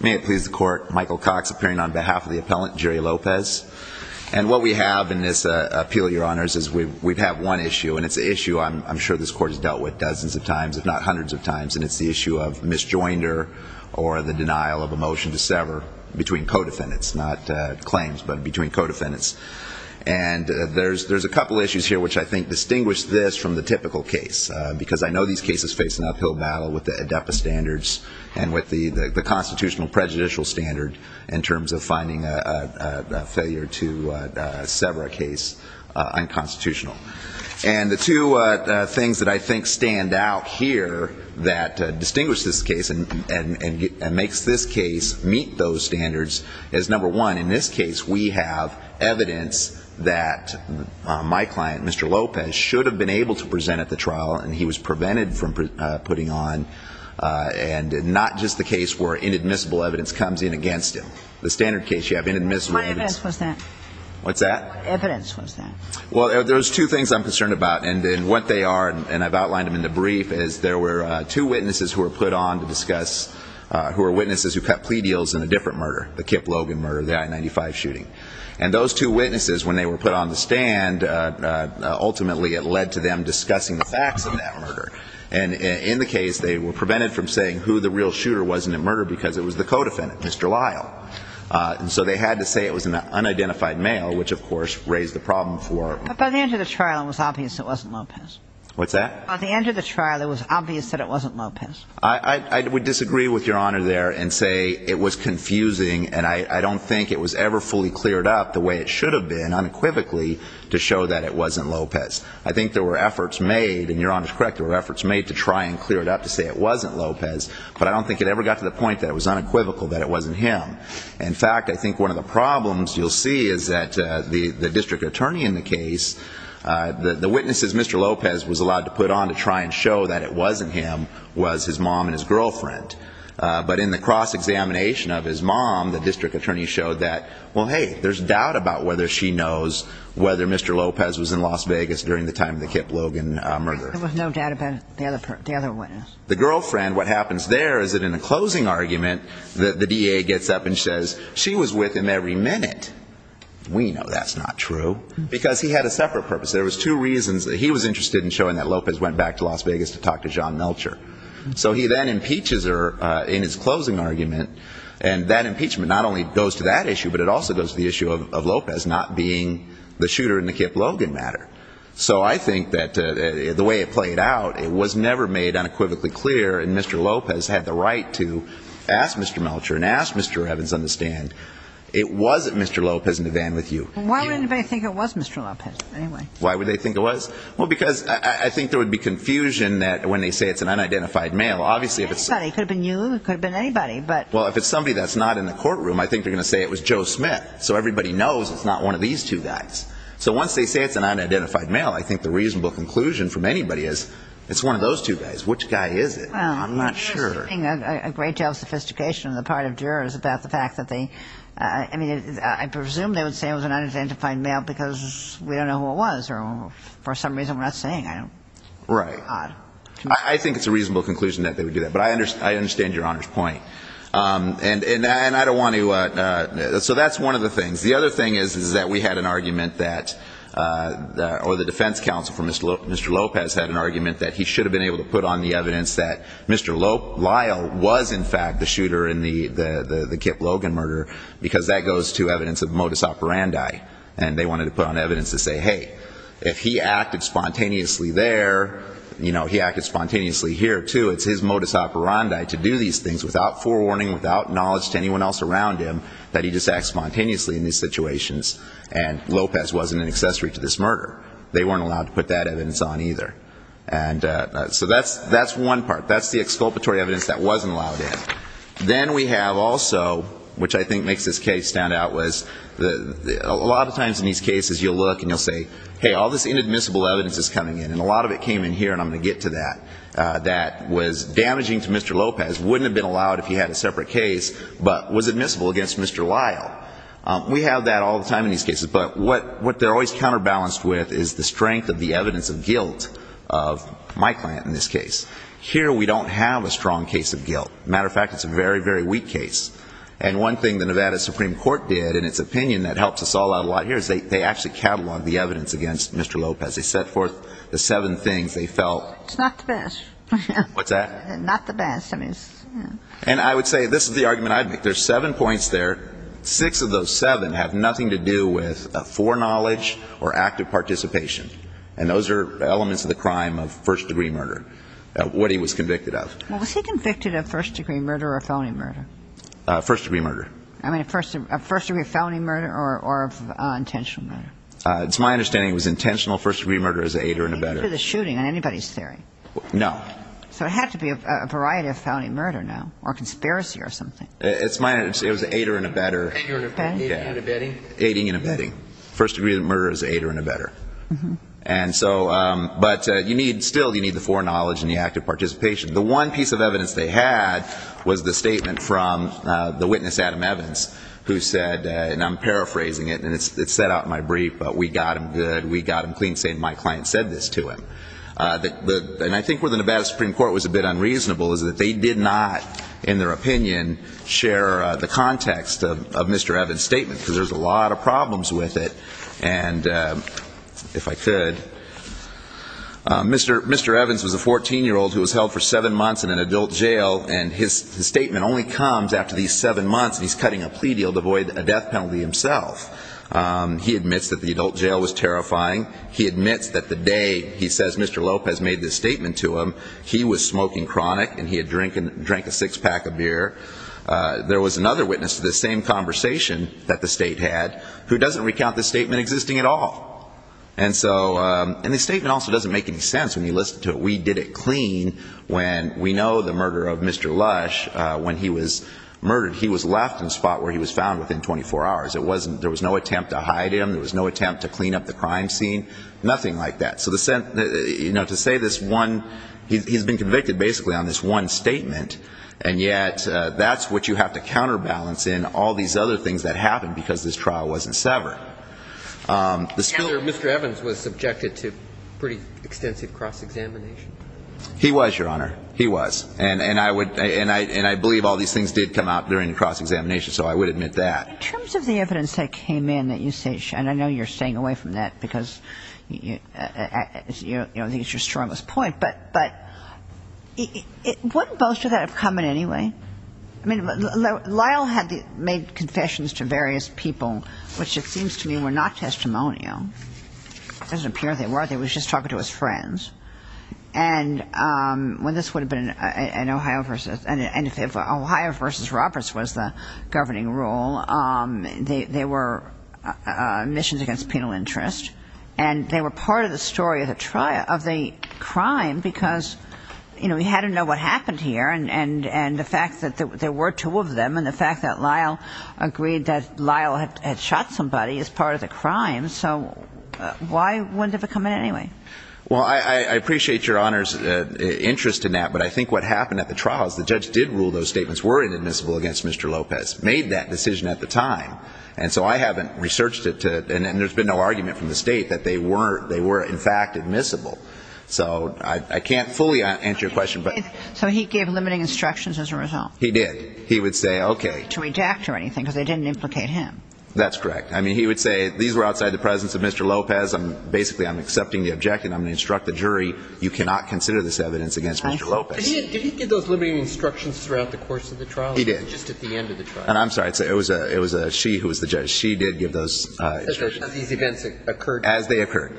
May it please the court, Michael Cox appearing on behalf of the appellant, Jerry Lopez. And what we have in this appeal, your honors, is we have one issue, and it's an issue I'm sure this court has dealt with dozens of times, if not hundreds of times, and it's the issue of misjoinder or the denial of a motion to sever between co-defendants, not claims, but between co-defendants. And there's a couple issues here which I think distinguish this from the typical case, because I know these cases face an uphill battle with the ADEPA standards and with the constitutional prejudicial standard in terms of finding a failure to sever a case unconstitutional. And the two things that I think stand out here that distinguish this case and makes this case meet those standards is, number one, in this case we have evidence that my client, Mr. Lopez, should have been able to present at the trial, and he was prevented from putting on, and not just the case where inadmissible evidence comes in against him. The standard case, you have inadmissible evidence. My evidence was that. What's that? My evidence was that. Well, there's two things I'm concerned about, and what they are, and I've outlined them in the brief, is there were two witnesses who were put on to discuss, who were witnesses who cut plea deals in a different murder, the Kip Logan murder, the I-95 shooting. And those two witnesses, when they were put on the stand, ultimately it led to them discussing the facts of that murder. And in the case, they were prevented from saying who the real shooter was in that murder because it was the co-defendant, Mr. Lyle. And so they had to say it was an unidentified male, which, of course, raised the problem for them. But by the end of the trial, it was obvious it wasn't Lopez. What's that? By the end of the trial, it was obvious that it wasn't Lopez. I would disagree with Your Honor there and say it was confusing, and I don't think it was ever fully cleared up the way it should have been, unequivocally, to show that it was made, and Your Honor is correct, there were efforts made to try and clear it up to say it wasn't Lopez, but I don't think it ever got to the point that it was unequivocal that it wasn't him. In fact, I think one of the problems you'll see is that the district attorney in the case, the witnesses Mr. Lopez was allowed to put on to try and show that it wasn't him, was his mom and his girlfriend. But in the cross-examination of his mom, the district attorney showed that, well, hey, there's doubt about whether she knows whether Mr. Lopez was in Las Vegas during the time of the Kip Logan murder. There was no doubt about the other witness. The girlfriend, what happens there is that in a closing argument, the DA gets up and says she was with him every minute. We know that's not true, because he had a separate purpose. There was two reasons. He was interested in showing that Lopez went back to Las Vegas to talk to John Melcher. So he then impeaches her in his closing argument, and that impeachment not only goes to that issue, but it also goes to the issue of Lopez not being the shooter in the Kip Logan matter. So I think that the way it played out, it was never made unequivocally clear, and Mr. Lopez had the right to ask Mr. Melcher and ask Mr. Evans on the stand, it wasn't Mr. Lopez in the van with you. Why would anybody think it was Mr. Lopez, anyway? Why would they think it was? Well, because I think there would be confusion that when they say it's an unidentified male, obviously if it's somebody It could have been you, it could have been anybody, but Well, if it's somebody that's not in the courtroom, I think they're going to say it was Joe Smith. So everybody knows it's not one of these two guys. So once they say it's an unidentified male, I think the reasonable conclusion from anybody is, it's one of those two guys. Which guy is it? I'm not sure. Well, you're saying a great deal of sophistication on the part of jurors about the fact that they, I mean, I presume they would say it was an unidentified male because we don't know who it was, or for some reason we're not saying, I don't know. Right. I think it's a reasonable conclusion that they would do that, but I understand Your Honor's point. And I don't want to, so that's one of the things. The other thing is, is that we had an argument that, or the defense counsel for Mr. Lopez had an argument that he should have been able to put on the evidence that Mr. Lyle was in fact the shooter in the Kip Logan murder, because that goes to evidence of modus operandi, and they wanted to put on evidence to say, hey, if he acted spontaneously there, you know, he acted spontaneously here, too. It's his modus operandi to do these things without forewarning, without knowledge to anyone else around him, that he just acted spontaneously in these situations, and Lopez wasn't an accessory to this murder. They weren't allowed to put that evidence on, either. And so that's one part. That's the exculpatory evidence that wasn't allowed in. Then we have also, which I think makes this case stand out, was a lot of times in these cases you'll look and you'll say, hey, all this inadmissible evidence is coming in, and a lot of it came in here, and I'm going to get to that, that was damaging to Mr. Lopez, wouldn't have been allowed if he had a separate case, but was admissible against Mr. Lyle. We have that all the time in these cases, but what they're always counterbalanced with is the strength of the evidence of guilt of my client in this case. Here we don't have a strong case of guilt. As a matter of fact, it's a very, very weak case. And one thing the Nevada Supreme Court did in its opinion that helps us all out a lot here is they actually cataloged the evidence against Mr. Lopez. They set forth the seven things they felt It's not the best. What's that? Not the best. I mean, it's, you know. And I would say this is the argument I'd make. There's seven points there. Six of those seven have nothing to do with foreknowledge or active participation. And those are elements of the crime of first-degree murder, what he was convicted of. Well, was he convicted of first-degree murder or felony murder? First-degree murder. I mean, a first-degree felony murder or intentional murder? It's my understanding it was intentional first-degree murder as an aider and abetter. He didn't do the shooting on anybody's theory. No. So it had to be a variety of felony murder now, or conspiracy or something. It's my understanding it was an aider and abetter. Aiding and abetting. Aiding and abetting. First-degree murder as an aider and abetter. And so, but you need still you need the foreknowledge and the active participation. The one piece of evidence they had was the statement from the witness, Adam Evans, who said, and I'm paraphrasing it, and it's set out in my brief, but we got him good, we got him clean, saying my client said this to him. And I think where the Nevada Supreme Court was a bit unreasonable is that they did not, in their opinion, share the context of Mr. Evans' statement, because there's a lot of problems with it. And if I could, Mr. Evans was a 14-year-old who was held for seven months in an adult jail, and his statement only comes after these seven months, and he's cutting a plea deal to avoid a death penalty himself. He admits that the adult jail was terrifying. He admits that the day, he says, Mr. Lopez made this statement to him, he was smoking chronic and he had drank a six-pack of beer. There was another witness to this same conversation that the state had who doesn't recount this statement existing at all. And so, and his statement also doesn't make any sense when you listen to it. We did it clean when we know the murder of Mr. Lush, when he was murdered, he was left in a spot where he was found within 24 hours. It wasn't, there was no attempt to hide him, there was no attempt to clean up the crime scene, nothing like that. So the, you know, to say this one, he's been convicted basically on this one statement, and yet that's what you have to counterbalance in all these other things that happened because this trial wasn't severed. Mr. Evans was subjected to pretty extensive cross-examination. He was, Your Honor. He was. And I would, and I believe all these things did come out during the cross-examination, so I would admit that. In terms of the evidence that came in that you say, and I know you're staying away from that because, you know, I think it's your strongest point, but wouldn't most of that have come in anyway? I mean, Lyle had made confessions to various people, which it seems to me were not testimonial. It doesn't appear they were. They were just talking to his friends. And when this would have been an Ohio versus, and if Ohio versus Roberts was the governing rule, they were missions against penal interest, and they were part of the story of the crime because, you know, he had to know what happened here, and the fact that there were two of them, and the fact that Lyle agreed that Lyle had shot somebody as part of the crime, so why wouldn't it have come in anyway? Well, I appreciate Your Honor's interest in that, but I think what happened at the trial is the judge did rule those statements were inadmissible against Mr. Lopez, made that decision at the time, and so I haven't researched it to, and there's been no argument from the state that they were, in fact, admissible. So I can't fully answer your question. So he gave limiting instructions as a result? He did. He would say, okay. To redact or anything, because they didn't implicate him. That's correct. I mean, he would say, these were outside the presence of Mr. Lopez, basically I'm accepting the objection, I'm going to instruct the jury, you cannot consider this evidence against Mr. Lopez. Did he give those limiting instructions throughout the course of the trial? He did. Or just at the end of the trial? I'm sorry, it was she who was the judge. She did give those instructions. As these events occurred? As they occurred.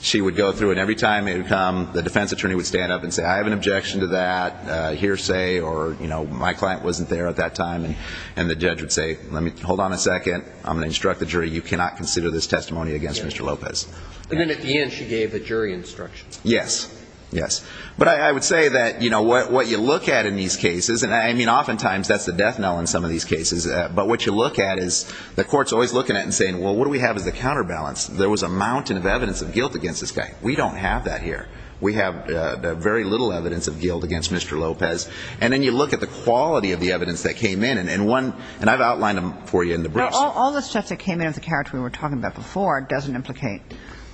She would go through, and every time it would come, the defense attorney would stand up and say, I have an objection to that, hearsay, or, you know, my client wasn't there at that time, and the judge would say, hold on a second, I'm going to instruct the jury, you cannot consider this testimony against Mr. Lopez. And then at the end, she gave the jury instructions? Yes. Yes. But I would say that, you know, what you look at in these cases, and I mean oftentimes that's the death knell in some of these cases, but what you look at is, the court's always looking at it and saying, well, what do we have as a counterbalance? There was a mountain of evidence of guilt against this guy. We don't have that here. We have very little evidence of guilt against Mr. Lopez. And then you look at the quality of the evidence that came in, and one, and I've outlined them for you in the briefs. All the stuff that came in of the character we were talking about before doesn't implicate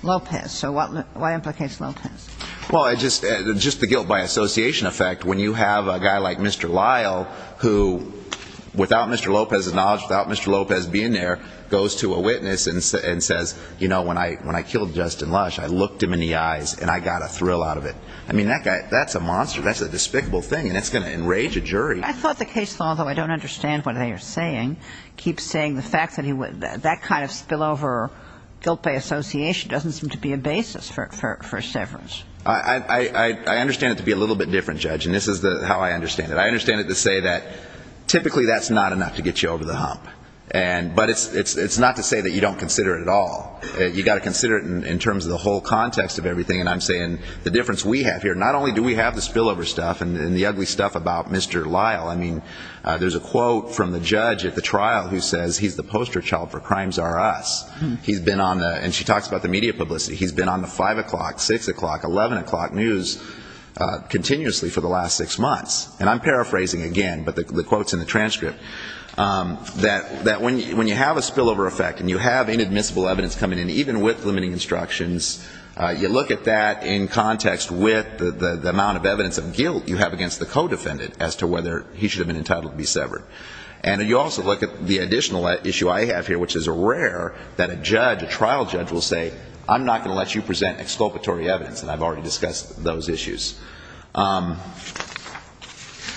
Lopez. So what, why implicates Lopez? Well, I just, just the guilt by association effect, when you have a guy like Mr. Lyle, who, without Mr. Lopez's knowledge, without Mr. Lopez being there, goes to a witness and says, you know, when I, when I killed Justin Lush, I looked him in the eye and said, you know, I'm not going to get a thrill out of it. I mean, that guy, that's a monster. That's a despicable thing, and it's going to enrage a jury. I thought the case law, though I don't understand what they are saying, keeps saying the fact that he would, that kind of spillover guilt by association doesn't seem to be a basis for, for, for severance. I, I, I, I understand it to be a little bit different, Judge, and this is the, how I understand it. I understand it to say that typically that's not enough to get you over the hump. And, but it's, it's, it's not to say that you don't consider it at all. You got to consider it in, in terms of the whole context of everything. And I'm saying, the difference we have here, not only do we have the spillover stuff and, and the ugly stuff about Mr. Lyle. I mean, there's a quote from the judge at the trial who says, he's the poster child for Crimes Are Us. He's been on the, and she talks about the media publicity. He's been on the five o'clock, six o'clock, eleven o'clock news continuously for the last six months. And I'm paraphrasing again, but the, the quotes in the transcript. That, that when you, when you have a spillover effect and you have to look at that in context with the, the, the amount of evidence of guilt you have against the co-defendant as to whether he should have been entitled to be severed. And you also look at the additional issue I have here, which is rare, that a judge, a trial judge will say, I'm not going to let you present exculpatory evidence, and I've already discussed those issues.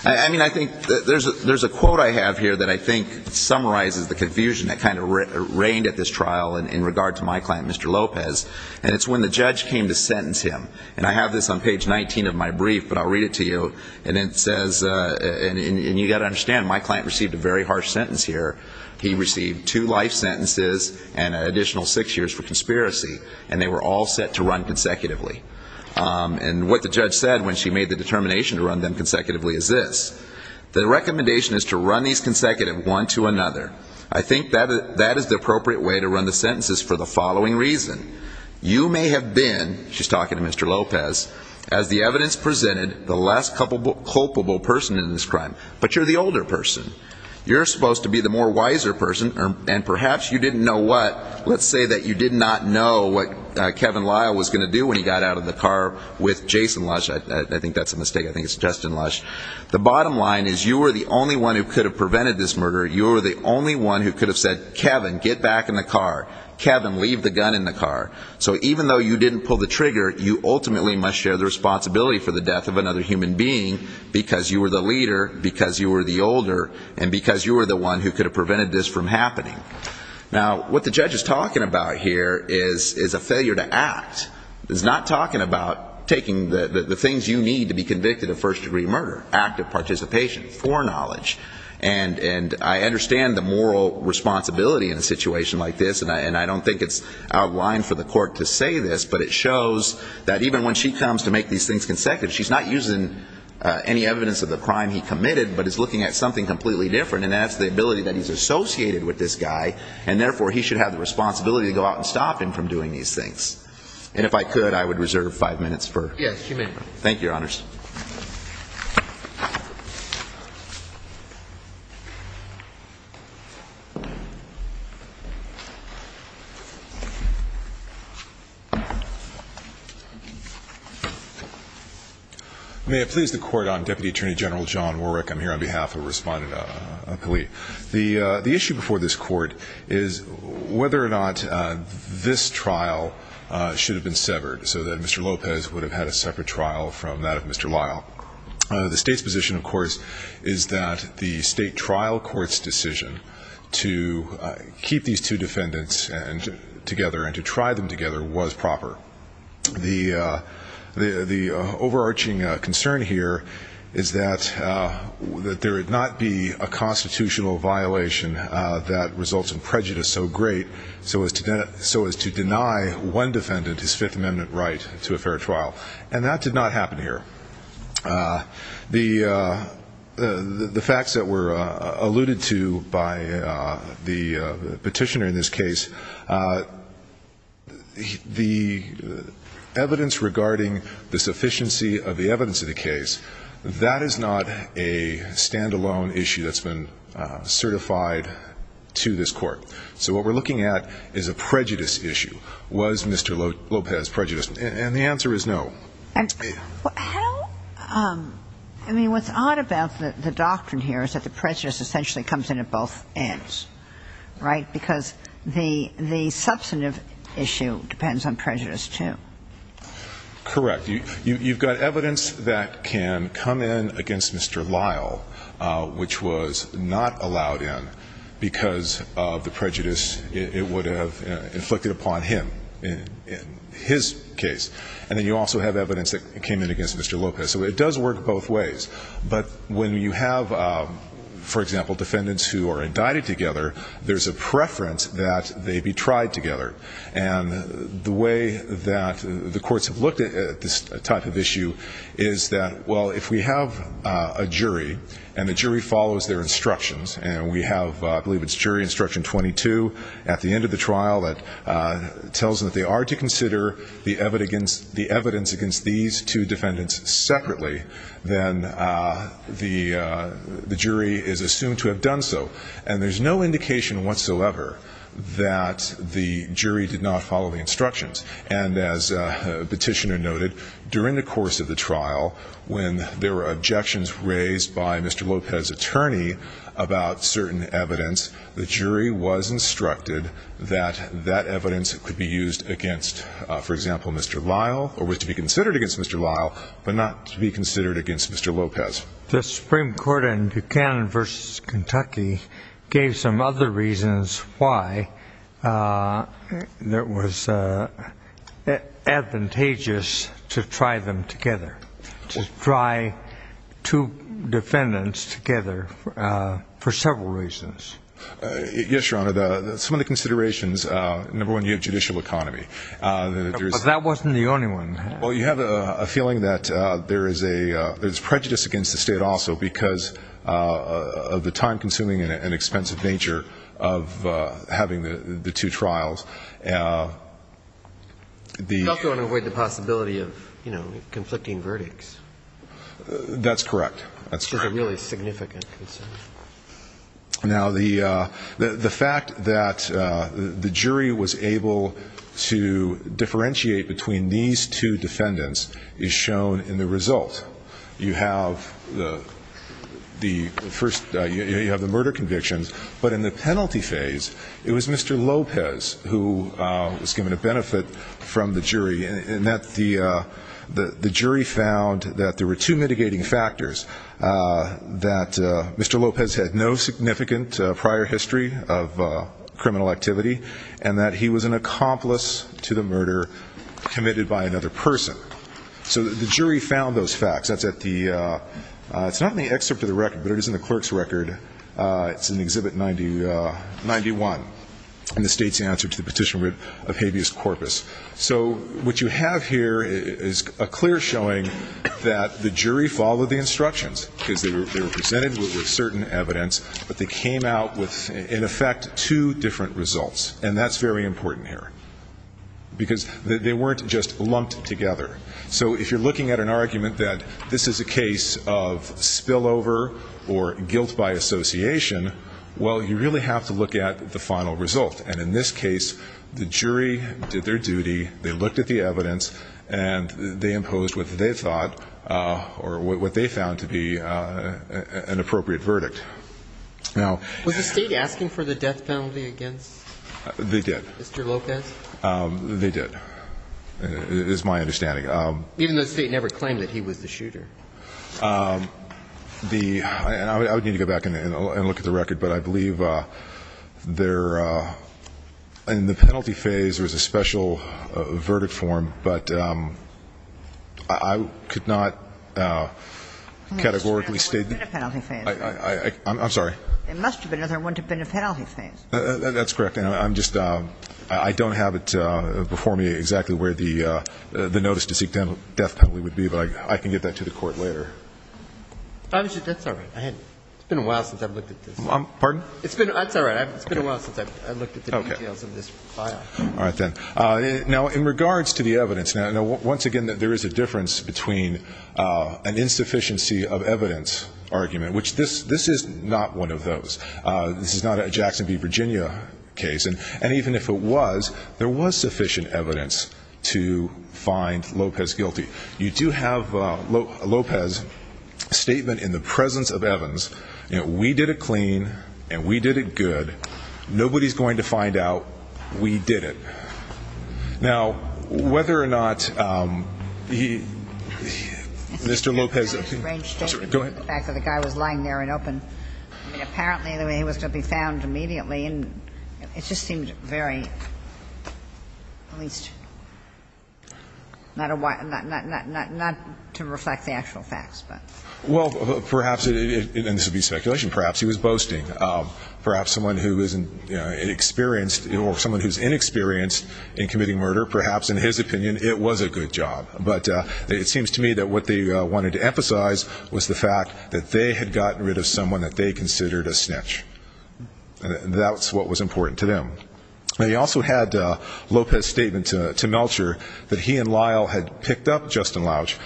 I, I mean, I think there's a, there's a quote I have here that I think summarizes the confusion that kind of re, reigned at this trial in, in regard to my client present exculpatory evidence, and I've already discussed those issues. I mean, I'm not going to sentence him. And I have this on page 19 of my brief, but I'll read it to you. And it says, and, and, and you've got to understand, my client received a very harsh sentence here. He received two life sentences and an additional six years for conspiracy. And they were all set to run consecutively. And what the judge said when she made the determination to run them consecutively is this. The recommendation is to run these consecutive one to another. I think that, that is the appropriate way to talking about the defendant, you may have been, you may have been, you may have been the one who was talking to Mr. Lopez, as the evidence presented, the less culpable, culpable person in this crime. But you're the older person. You're supposed to be the more wiser person, and perhaps you didn't know what, let's say that you did not know what Kevin Lyle was going to do when he got out of the car with Jason Lush. I, I, I think that's a mistake. I think it's Justin Lush. The bottom line is you were the only one who could have prevented this murder. You were the only one who could have said, Kevin, get back in the car. Kevin, leave the gun in the car. You ultimately must share the responsibility for the death of another human being, because you were the leader, because you were the older, and because you were the one who could have prevented this from happening. Now, what the judge is talking about here is, is a failure to act. It's not talking about taking the, the, the things you need to be convicted of first degree murder. Active participation, foreknowledge. And, and I understand the moral responsibility in a situation like this, and I, and I don't think it's out of line for the court to say that even when she comes to make these things consecutive, she's not using any evidence of the crime he committed, but is looking at something completely different, and that's the ability that he's associated with this guy, and therefore, he should have the responsibility to go out and stop him from doing these things. And if I could, I would reserve five Yes, you may. Thank you, Your Honors. May I please the court? I'm Deputy Attorney General John Warwick. I'm here on behalf of a respondent, a, a, a plea. The, the issue before this court is whether or not this trial should have been severed, so that Mr. Lopez would have had a separate trial from that of Mr. Lyle. The state's position, of course, is that the state trial court's decision to keep these two defendants and, together, and to the, the, the over-arching concern here is that that there would not be a constitutional violation that results in prejudice so great, so as to, so as to deny one defendant his Fifth Amendment right to a fair trial, and that did not happen here. The facts that were alluded to by the petitioner in this case, the evidence that Mr. Lopez brought to the court, the evidence regarding the sufficiency of the evidence of the case, that is not a stand-alone issue that's been certified to this court. So what we're looking at is a prejudice issue. Was Mr. Lopez prejudiced? And the answer is no. And how, I mean, what's odd about the doctrine here is that the prejudice essentially comes in at both ends, right? Because the, the substantive issue depends on prejudice too. Correct. You, you've got evidence that can come in against Mr. Lyle, which was not allowed in because of the prejudice it would have inflicted upon him, in, in his case. And then you also have evidence that came in against Mr. Lopez. So it does work both ways. But when you have, for example, defendants who are indicted together, there's a preference that they be tried together. And the way that the courts have looked at this type of issue is that, well, if we have a jury and the jury follows their instructions, and we have, I believe it's jury instruction 22, at the end of the trial, that tells them that they are to consider the evidence, the evidence against these two defendants separately, then the, the jury is assumed to have done so. And there's no indication whatsoever that the jury did not follow the instruction. And the petitioner noted, during the course of the trial, when there were objections raised by Mr. Lopez's attorney about certain evidence, the jury was instructed that that evidence could be used against, for example, Mr. Lyle, or was to be considered against Mr. Lyle, but not to be considered against Mr. Lopez. The Supreme Court in Buchanan v. Kentucky gave some other reasons important. I think that's important. I think that's important. I think it's advantageous to try them together, to try two defendants together for several reasons. Yes, Your Honor. Some of the considerations, number one, you have judicial economy. But that wasn't the only one. Well, you have a feeling that there is a, there's prejudice against the state also, because of the time-consuming and expensive nature of of, you know, conflicting verdicts. That's correct. That's correct. It's a really significant concern. Now, the fact that the jury was able to differentiate between these two defendants is shown in the result. You have the first, you have the murder convictions, but in the penalty phase, it was Mr. Lopez who was given a benefit from the jury in the jury found that there were two mitigating factors, that Mr. Lopez had no significant prior history of criminal activity, and that he was an accomplice to the murder committed by another person. So the jury found those facts. That's at the, it's not in the excerpt of the record, but it is in the clerk's record. It's in Exhibit 91 in the state's answer to the petition of habeas So what you have is the jury found that Mr. Lopez had no prior history What you have here is a clear showing that the jury followed the instructions, because they were presented with certain evidence, but they came out with, in effect, two different results. And that's very important here. Because they weren't just lumped together. So if you're looking at an argument that this is a case of spillover or guilt by association, well, you really have to look at the final result. And in this case, the jury did their duty. They looked at the evidence, and they imposed what they thought, or what they found to be an appropriate verdict. Now... Was the state asking for the death penalty against... They did. Mr. Lopez? They did, is my understanding. Even though the state never claimed that he was the shooter. I would need to go back and look at the record, but I believe there, in the penalty phase, there was a special verdict form, but I could not categorically state... It must have been another one to the penalty phase. I'm sorry? It must have been another one to the penalty phase. That's correct. I don't have it before me exactly where the notice to seek death penalty would be, but I can get that to the Court later. That's all right. It's been a while since I've looked at this. Pardon? It's all right. It's been a while since I've looked at the details of this file. All right, then. Now, in regards to the evidence, once again, there is a difference between an insufficiency of evidence argument, which this is not one of those. This is not a Jackson v. Virginia case. And even if it was, there was sufficient evidence to find Lopez guilty. You do have a Lopez statement in the presence of Evans. We did it clean, and we did it good. Nobody's going to find out we did it. Now, whether or not he... Mr. Lopez... I'm sorry. Go ahead. Apparently he was going to be found immediately. It just seemed very... Not to reflect the actual facts, but... Well, perhaps, and this would be speculation, perhaps he was boasting. Perhaps someone who is inexperienced or someone who's inexperienced in committing murder, perhaps, in his opinion, it was a good job. But it seems to me that what they wanted to emphasize was the fact that they had gotten rid of someone that they considered a snitch. That's what was important to them. They also had a Lopez statement to Melcher that he and Lyle had picked up Justin Lush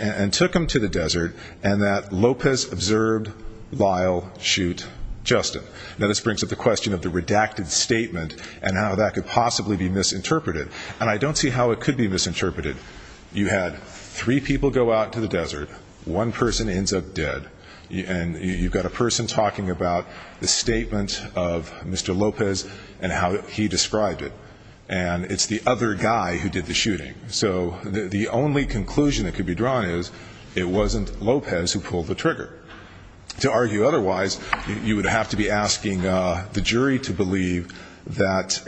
and took him to the desert, and that Lopez observed Lyle shoot Justin. Now, this brings up the question of the redacted statement and how that could possibly be misinterpreted. And I don't see how it could be misinterpreted. You had three people go out to the desert. One person ends up dead. And you've got a person talking about the statement of Mr. Lopez and how he described it. And it's the other guy who did the shooting. So the only conclusion that could be drawn is it wasn't Lopez who pulled the trigger. To argue otherwise, you would have to be asking the jury to believe that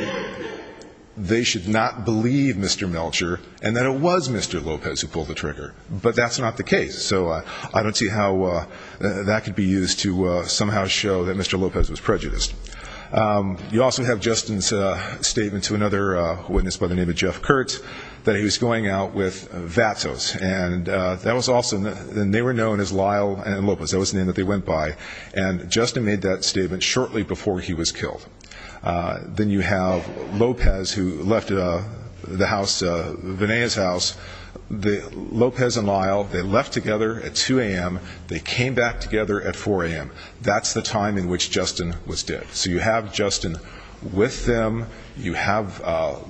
they should not believe Mr. Melcher and that it was Mr. Lopez who pulled the trigger. But that's not the case. So I don't see how that could be used to somehow show that Mr. Lopez was prejudiced. You also have Justin's statement to another witness by the name of Jeff Kurtz that he was going out with Vatos. And that was awesome. And they were known as Lyle and Lopez. That was the name that they went by. And Justin made that statement shortly before he was killed. Then you have Lopez who left the house, Vinaya's house. Lopez and Lyle, they left together at 2 a.m. They came back together at 4 a.m. That's the time in which Justin was dead. So you have Justin with them. You have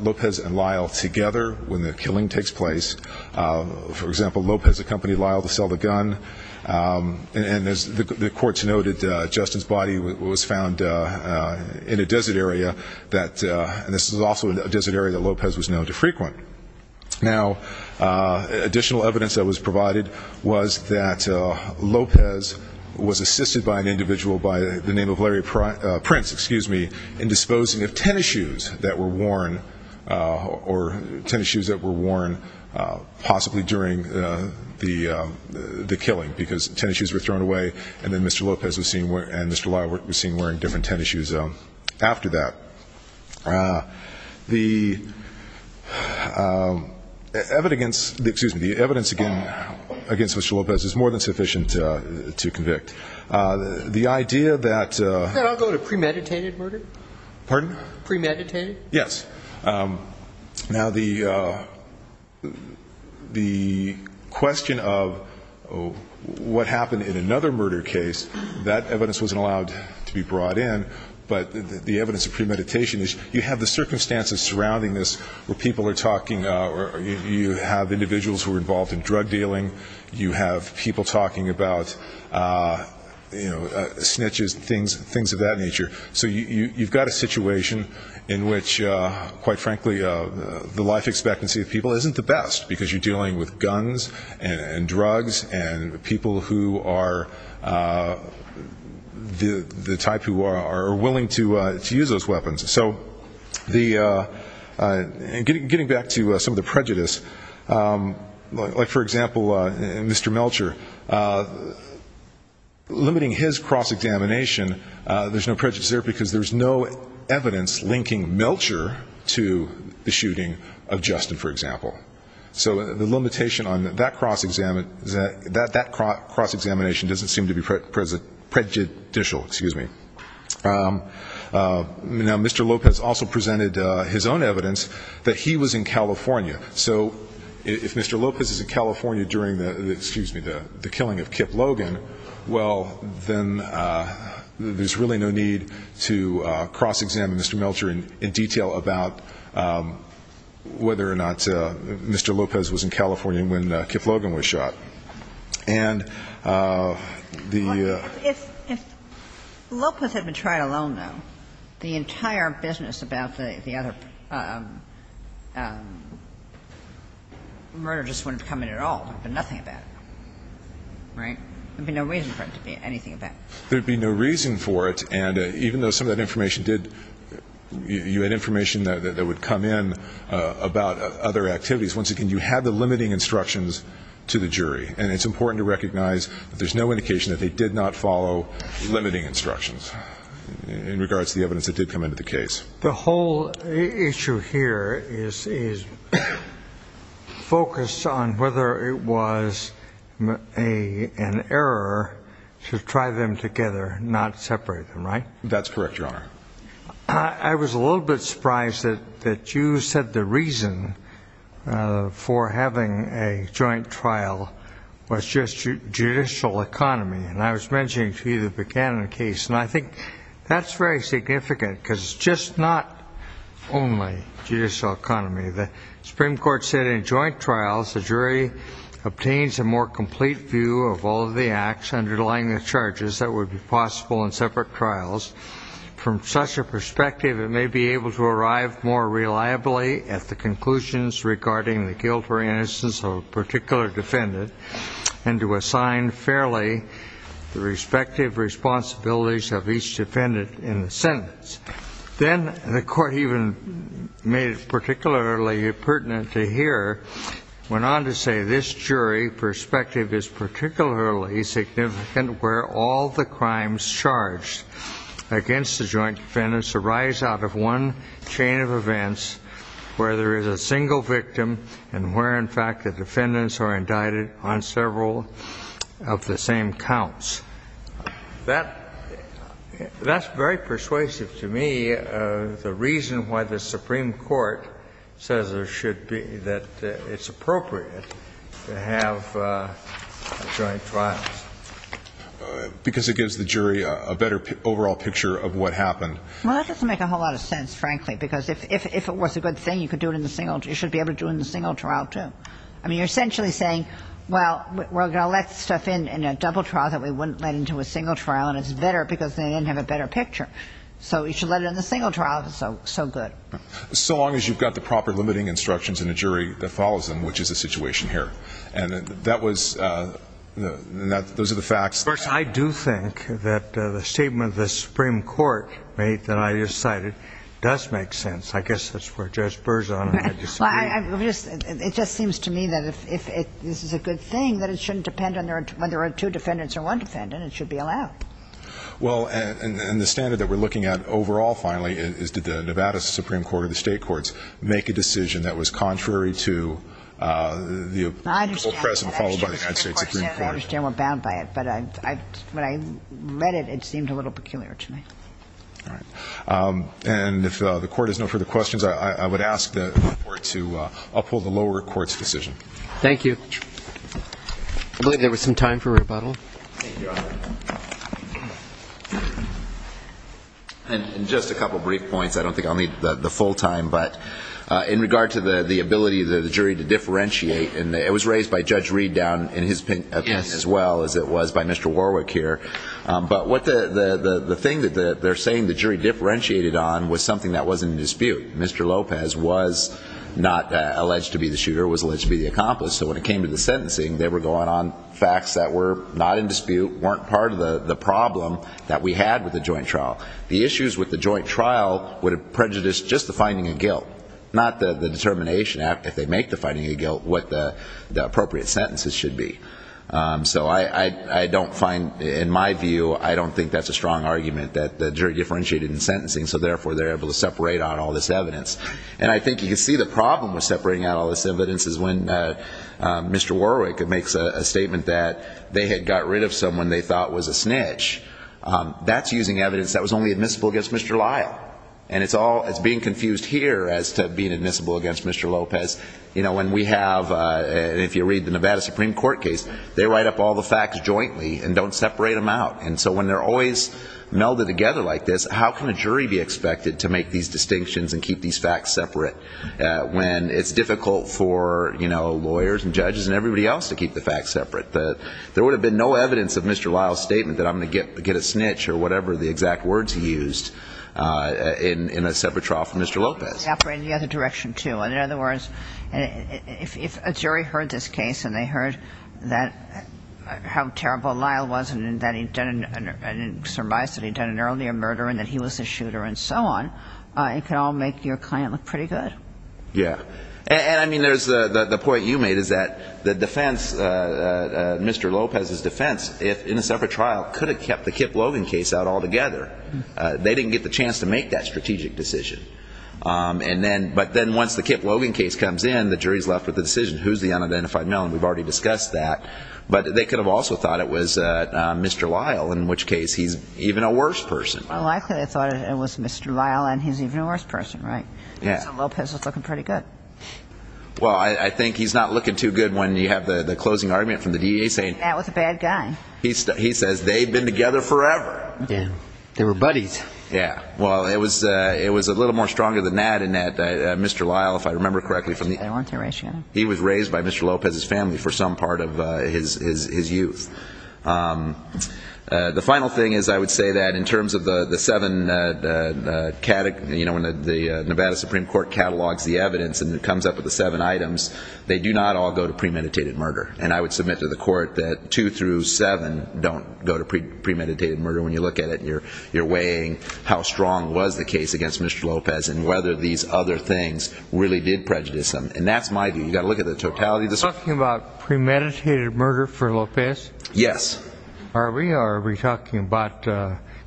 Lopez and Lyle together when the killing takes place. For example, Lopez accompanied Lyle to sell the gun. And as the courts noted, Justin's body was found in a desert area. And this was also a desert area that Lopez was known to frequent. Now, additional evidence that was provided was that Lopez was assisted by an individual by the name of Larry Prince, excuse me, in disposing of tennis shoes that were worn, or tennis shoes that were worn possibly during the killing because tennis shoes were thrown away. And then Mr. Lopez and Mr. Lyle were seen wearing different tennis shoes after that. was that Lopez was assisted by an individual by the name of Larry Prince against which Lopez is more than sufficient to convict. The idea that... Can I go to premeditated murder? Premeditated? Yes. Now, the question of what happened in another murder case, that evidence wasn't allowed to be brought in, but the evidence of premeditation is you have the circumstances surrounding this where people are talking or you have individuals who are involved in drug dealing, you have people talking about snitches and things of that nature. So you've got a situation in which, quite frankly, the life expectancy of people isn't the best because you're dealing with guns and drugs and people who are the type who are willing to use those weapons. So getting back to some of the prejudice, like, for example, Mr. Melcher, limiting his cross-examination, there's no prejudice there because there's no evidence linking Melcher to the shooting of Justin, for example. So the limitation on that cross-examination doesn't seem to be prejudicial. Now, Mr. Lopez also presented his own evidence that he was in California. So if Mr. Lopez is in California during the killing of Kip Logan, well, then there's really no need to cross-examine Mr. Melcher in detail about whether or not Mr. Lopez was in California when Kip Logan was shot. And the... If Lopez had been tried alone, though, the entire business about the other murder just wouldn't have come in at all. There'd be nothing about it. Right? There'd be no reason for it to be anything about it. There'd be no reason for it, and even though some of that information did, you had information that would come in about other activities. Once again, you had the limiting instructions to the jury. And it's important to recognize that there's no indication that they did not follow limiting instructions in regards to the evidence that did come into the case. The whole issue here is focused on whether it was an error to try them together, not separate them, right? That's correct, Your Honor. I was a little bit surprised that you said the reason for having a joint trial was just judicial economy. And I was mentioning to you the Buchanan case, and I think that's very significant, because it's just not only judicial economy. The Supreme Court said in joint trials the jury obtains a more complete view of all of the acts underlying the charges that would be possible in separate trials. From such a perspective, it may be able to arrive at the conclusions regarding the guilt or innocence of a particular defendant, and to assign fairly the respective responsibilities of each defendant in the sentence. Then the court even made it particularly pertinent to hear, went on to say, this jury perspective is particularly significant where all the crimes charged against the joint defendant arise out of one chain of events where there is a single victim and where, in fact, the defendants are indicted on several of the same counts. That's very persuasive to me, the reason why the Supreme Court says that it's appropriate to have joint trials. Because it gives the jury a better overall picture of what happened. Well, that doesn't make a whole lot of sense, frankly, because if it was a good thing, you should be able to do it in a single trial, too. I mean, you're essentially saying, well, we're going to let stuff in in a double trial that we wouldn't let into a single trial, and it's better because they didn't have a better picture. So you should let it in the single trial if it's so good. So long as you've got the proper limiting instructions in the jury that follows them, which is the situation here. And that was... those are the facts. First, I do think that the statement the Supreme Court made that I just cited does make sense. I guess that's where Judge Burr's on, and I disagree. It just seems to me that if this is a good thing, that it shouldn't depend on whether there are two defendants or one defendant. It should be allowed. Well, and the standard that we're looking at overall, finally, is did the Nevada Supreme Court or the state courts make a decision that was contrary to the oppressive followed by the United States Supreme Court? I understand we're bound by it, but when I read it, it seemed a little peculiar to me. All right. And if the court has no further questions, I would ask the court to uphold the lower court's decision. Thank you. I believe there was some time for rebuttal. Thank you, Your Honor. And just a couple brief points. I don't think I'll need the full time, but in regard to the ability of the jury to differentiate, and it was raised by Judge Reed down in his opinion as well as it was by Mr. Warwick here, but the thing that they're saying the jury differentiated on was something that wasn't in dispute. Mr. Lopez was not alleged to be the shooter, was alleged to be the accomplice. So when it came to the sentencing, they were going on facts that were not in dispute, weren't part of the problem that we had with the joint trial. The issues with the joint trial would have prejudiced just the finding of guilt, not the determination if they make the finding of guilt, what the appropriate sentences should be. So I don't find, in my view, I don't think that's a strong argument that the jury differentiated in sentencing, so therefore they're able to separate out all this evidence. And I think you can see the problem with separating out all this evidence is when Mr. Warwick makes a statement that they had got rid of someone they thought was a snitch. That's using evidence that was only admissible against Mr. Lyle. And it's being confused here as to being admissible against Mr. Lopez. If you read the Nevada Supreme Court case, they write up all the facts jointly and don't separate them out. And so when they're always melded together like this, how can a jury be expected to make these distinctions and keep these facts separate when it's difficult for lawyers and judges and everybody else to keep the facts separate? There would have been no evidence of Mr. Lyle's statement that I'm going to get a snitch or whatever the exact words he used in a separate trial for Mr. Lopez. In other words, if a jury heard this case and they heard how terrible Lyle was and that he'd done an earlier murder and that he was a shooter and so on, it could all make your client look pretty good. Yeah. And I mean, the point you made is that the defense, Mr. Lopez's defense, in a separate trial, could have kept the Kip Logan case out altogether. They didn't get the chance to make that strategic decision. But then once the Kip Logan case comes in, the jury's left with the decision. Who's the unidentified male? And we've already discussed that. But they could have also thought it was Mr. Lyle, in which case he's even a worse person. Well, I clearly thought it was Mr. Lyle and he's even a worse person, right? Yeah. So Lopez was looking pretty good. Well, I think he's not looking too good when you have the closing argument from the DEA saying he says they've been together forever. They were buddies. Yeah. Well, it was a little more stronger than that in that Mr. Lyle, if I remember correctly, he was raised by Mr. Lopez's family for some part of his youth. The final thing is I would say that in terms of the seven, when the Nevada Supreme Court catalogs the evidence and it comes up with the seven items, they do not all go to premeditated murder. And I would submit to the court that two through seven don't go to premeditated murder when you look at it. You're weighing how strong was the case against Mr. Lopez and whether these other things really did prejudice him. And that's my view. You've got to look at the totality. Are we talking about premeditated murder for Lopez? Yes. Are we or are we talking about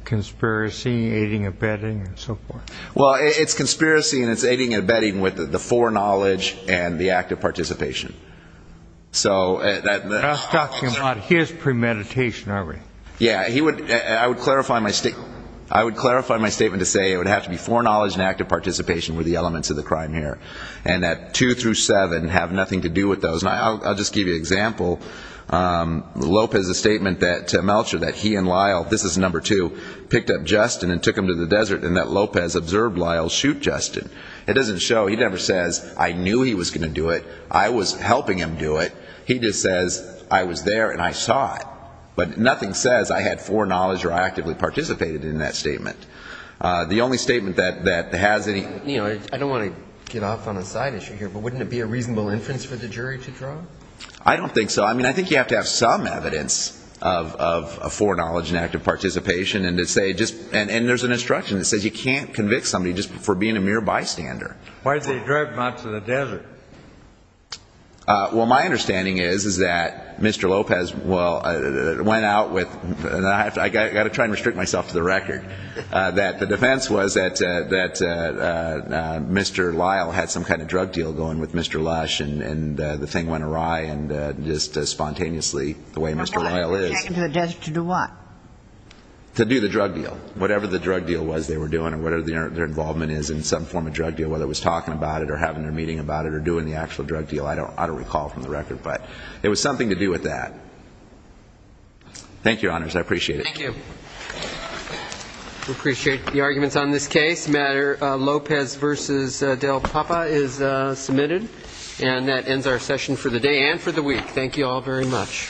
conspiracy, aiding and abetting, and so forth? Well, it's conspiracy and it's aiding and abetting with the foreknowledge and the act of participation. So... We're not talking about his premeditation, are we? Yeah. I would clarify my statement to say it would have to be foreknowledge and act of participation were the elements of the crime here. And that two through seven have nothing to do with those. And I'll just give you an example. Lopez's statement to Melcher that he and Lyle, this is number two, picked up Justin and took him to the desert and that Lopez observed Lyle shoot Justin. It doesn't show, he never says, I knew he was going to do it, I was helping him do it. He just says, I was there and I saw it. But nothing says I had foreknowledge or I actively participated in that statement. The only statement that has any... I don't want to get off on a side issue here, but wouldn't it be a reasonable inference for the jury to draw? I don't think so. I mean, I think you have to have some evidence of foreknowledge and act of participation and to say just... And there's an instruction that says you can't convict somebody just for being a mere bystander. Why did they drive him out to the desert? Well, my understanding is that Mr. Lopez, well, went out with... I've got to try and restrict myself to the record. That the defense was that Mr. Lyle had some kind of drug deal going with Mr. Lush and the thing went awry and just spontaneously, the way Mr. Lyle is... To do what? To do the drug deal, whatever the drug deal was they were doing or whatever their involvement is in some form of drug deal, whether it was talking about it or having their meeting about it or doing the actual drug deal, I don't recall from the record. But it was something to do with that. Thank you, Your Honors. I appreciate it. Thank you. We appreciate the arguments on this case. The matter Lopez v. Del Papa is submitted. And that ends our session for the day and for the week. Thank you all very much. Thank you.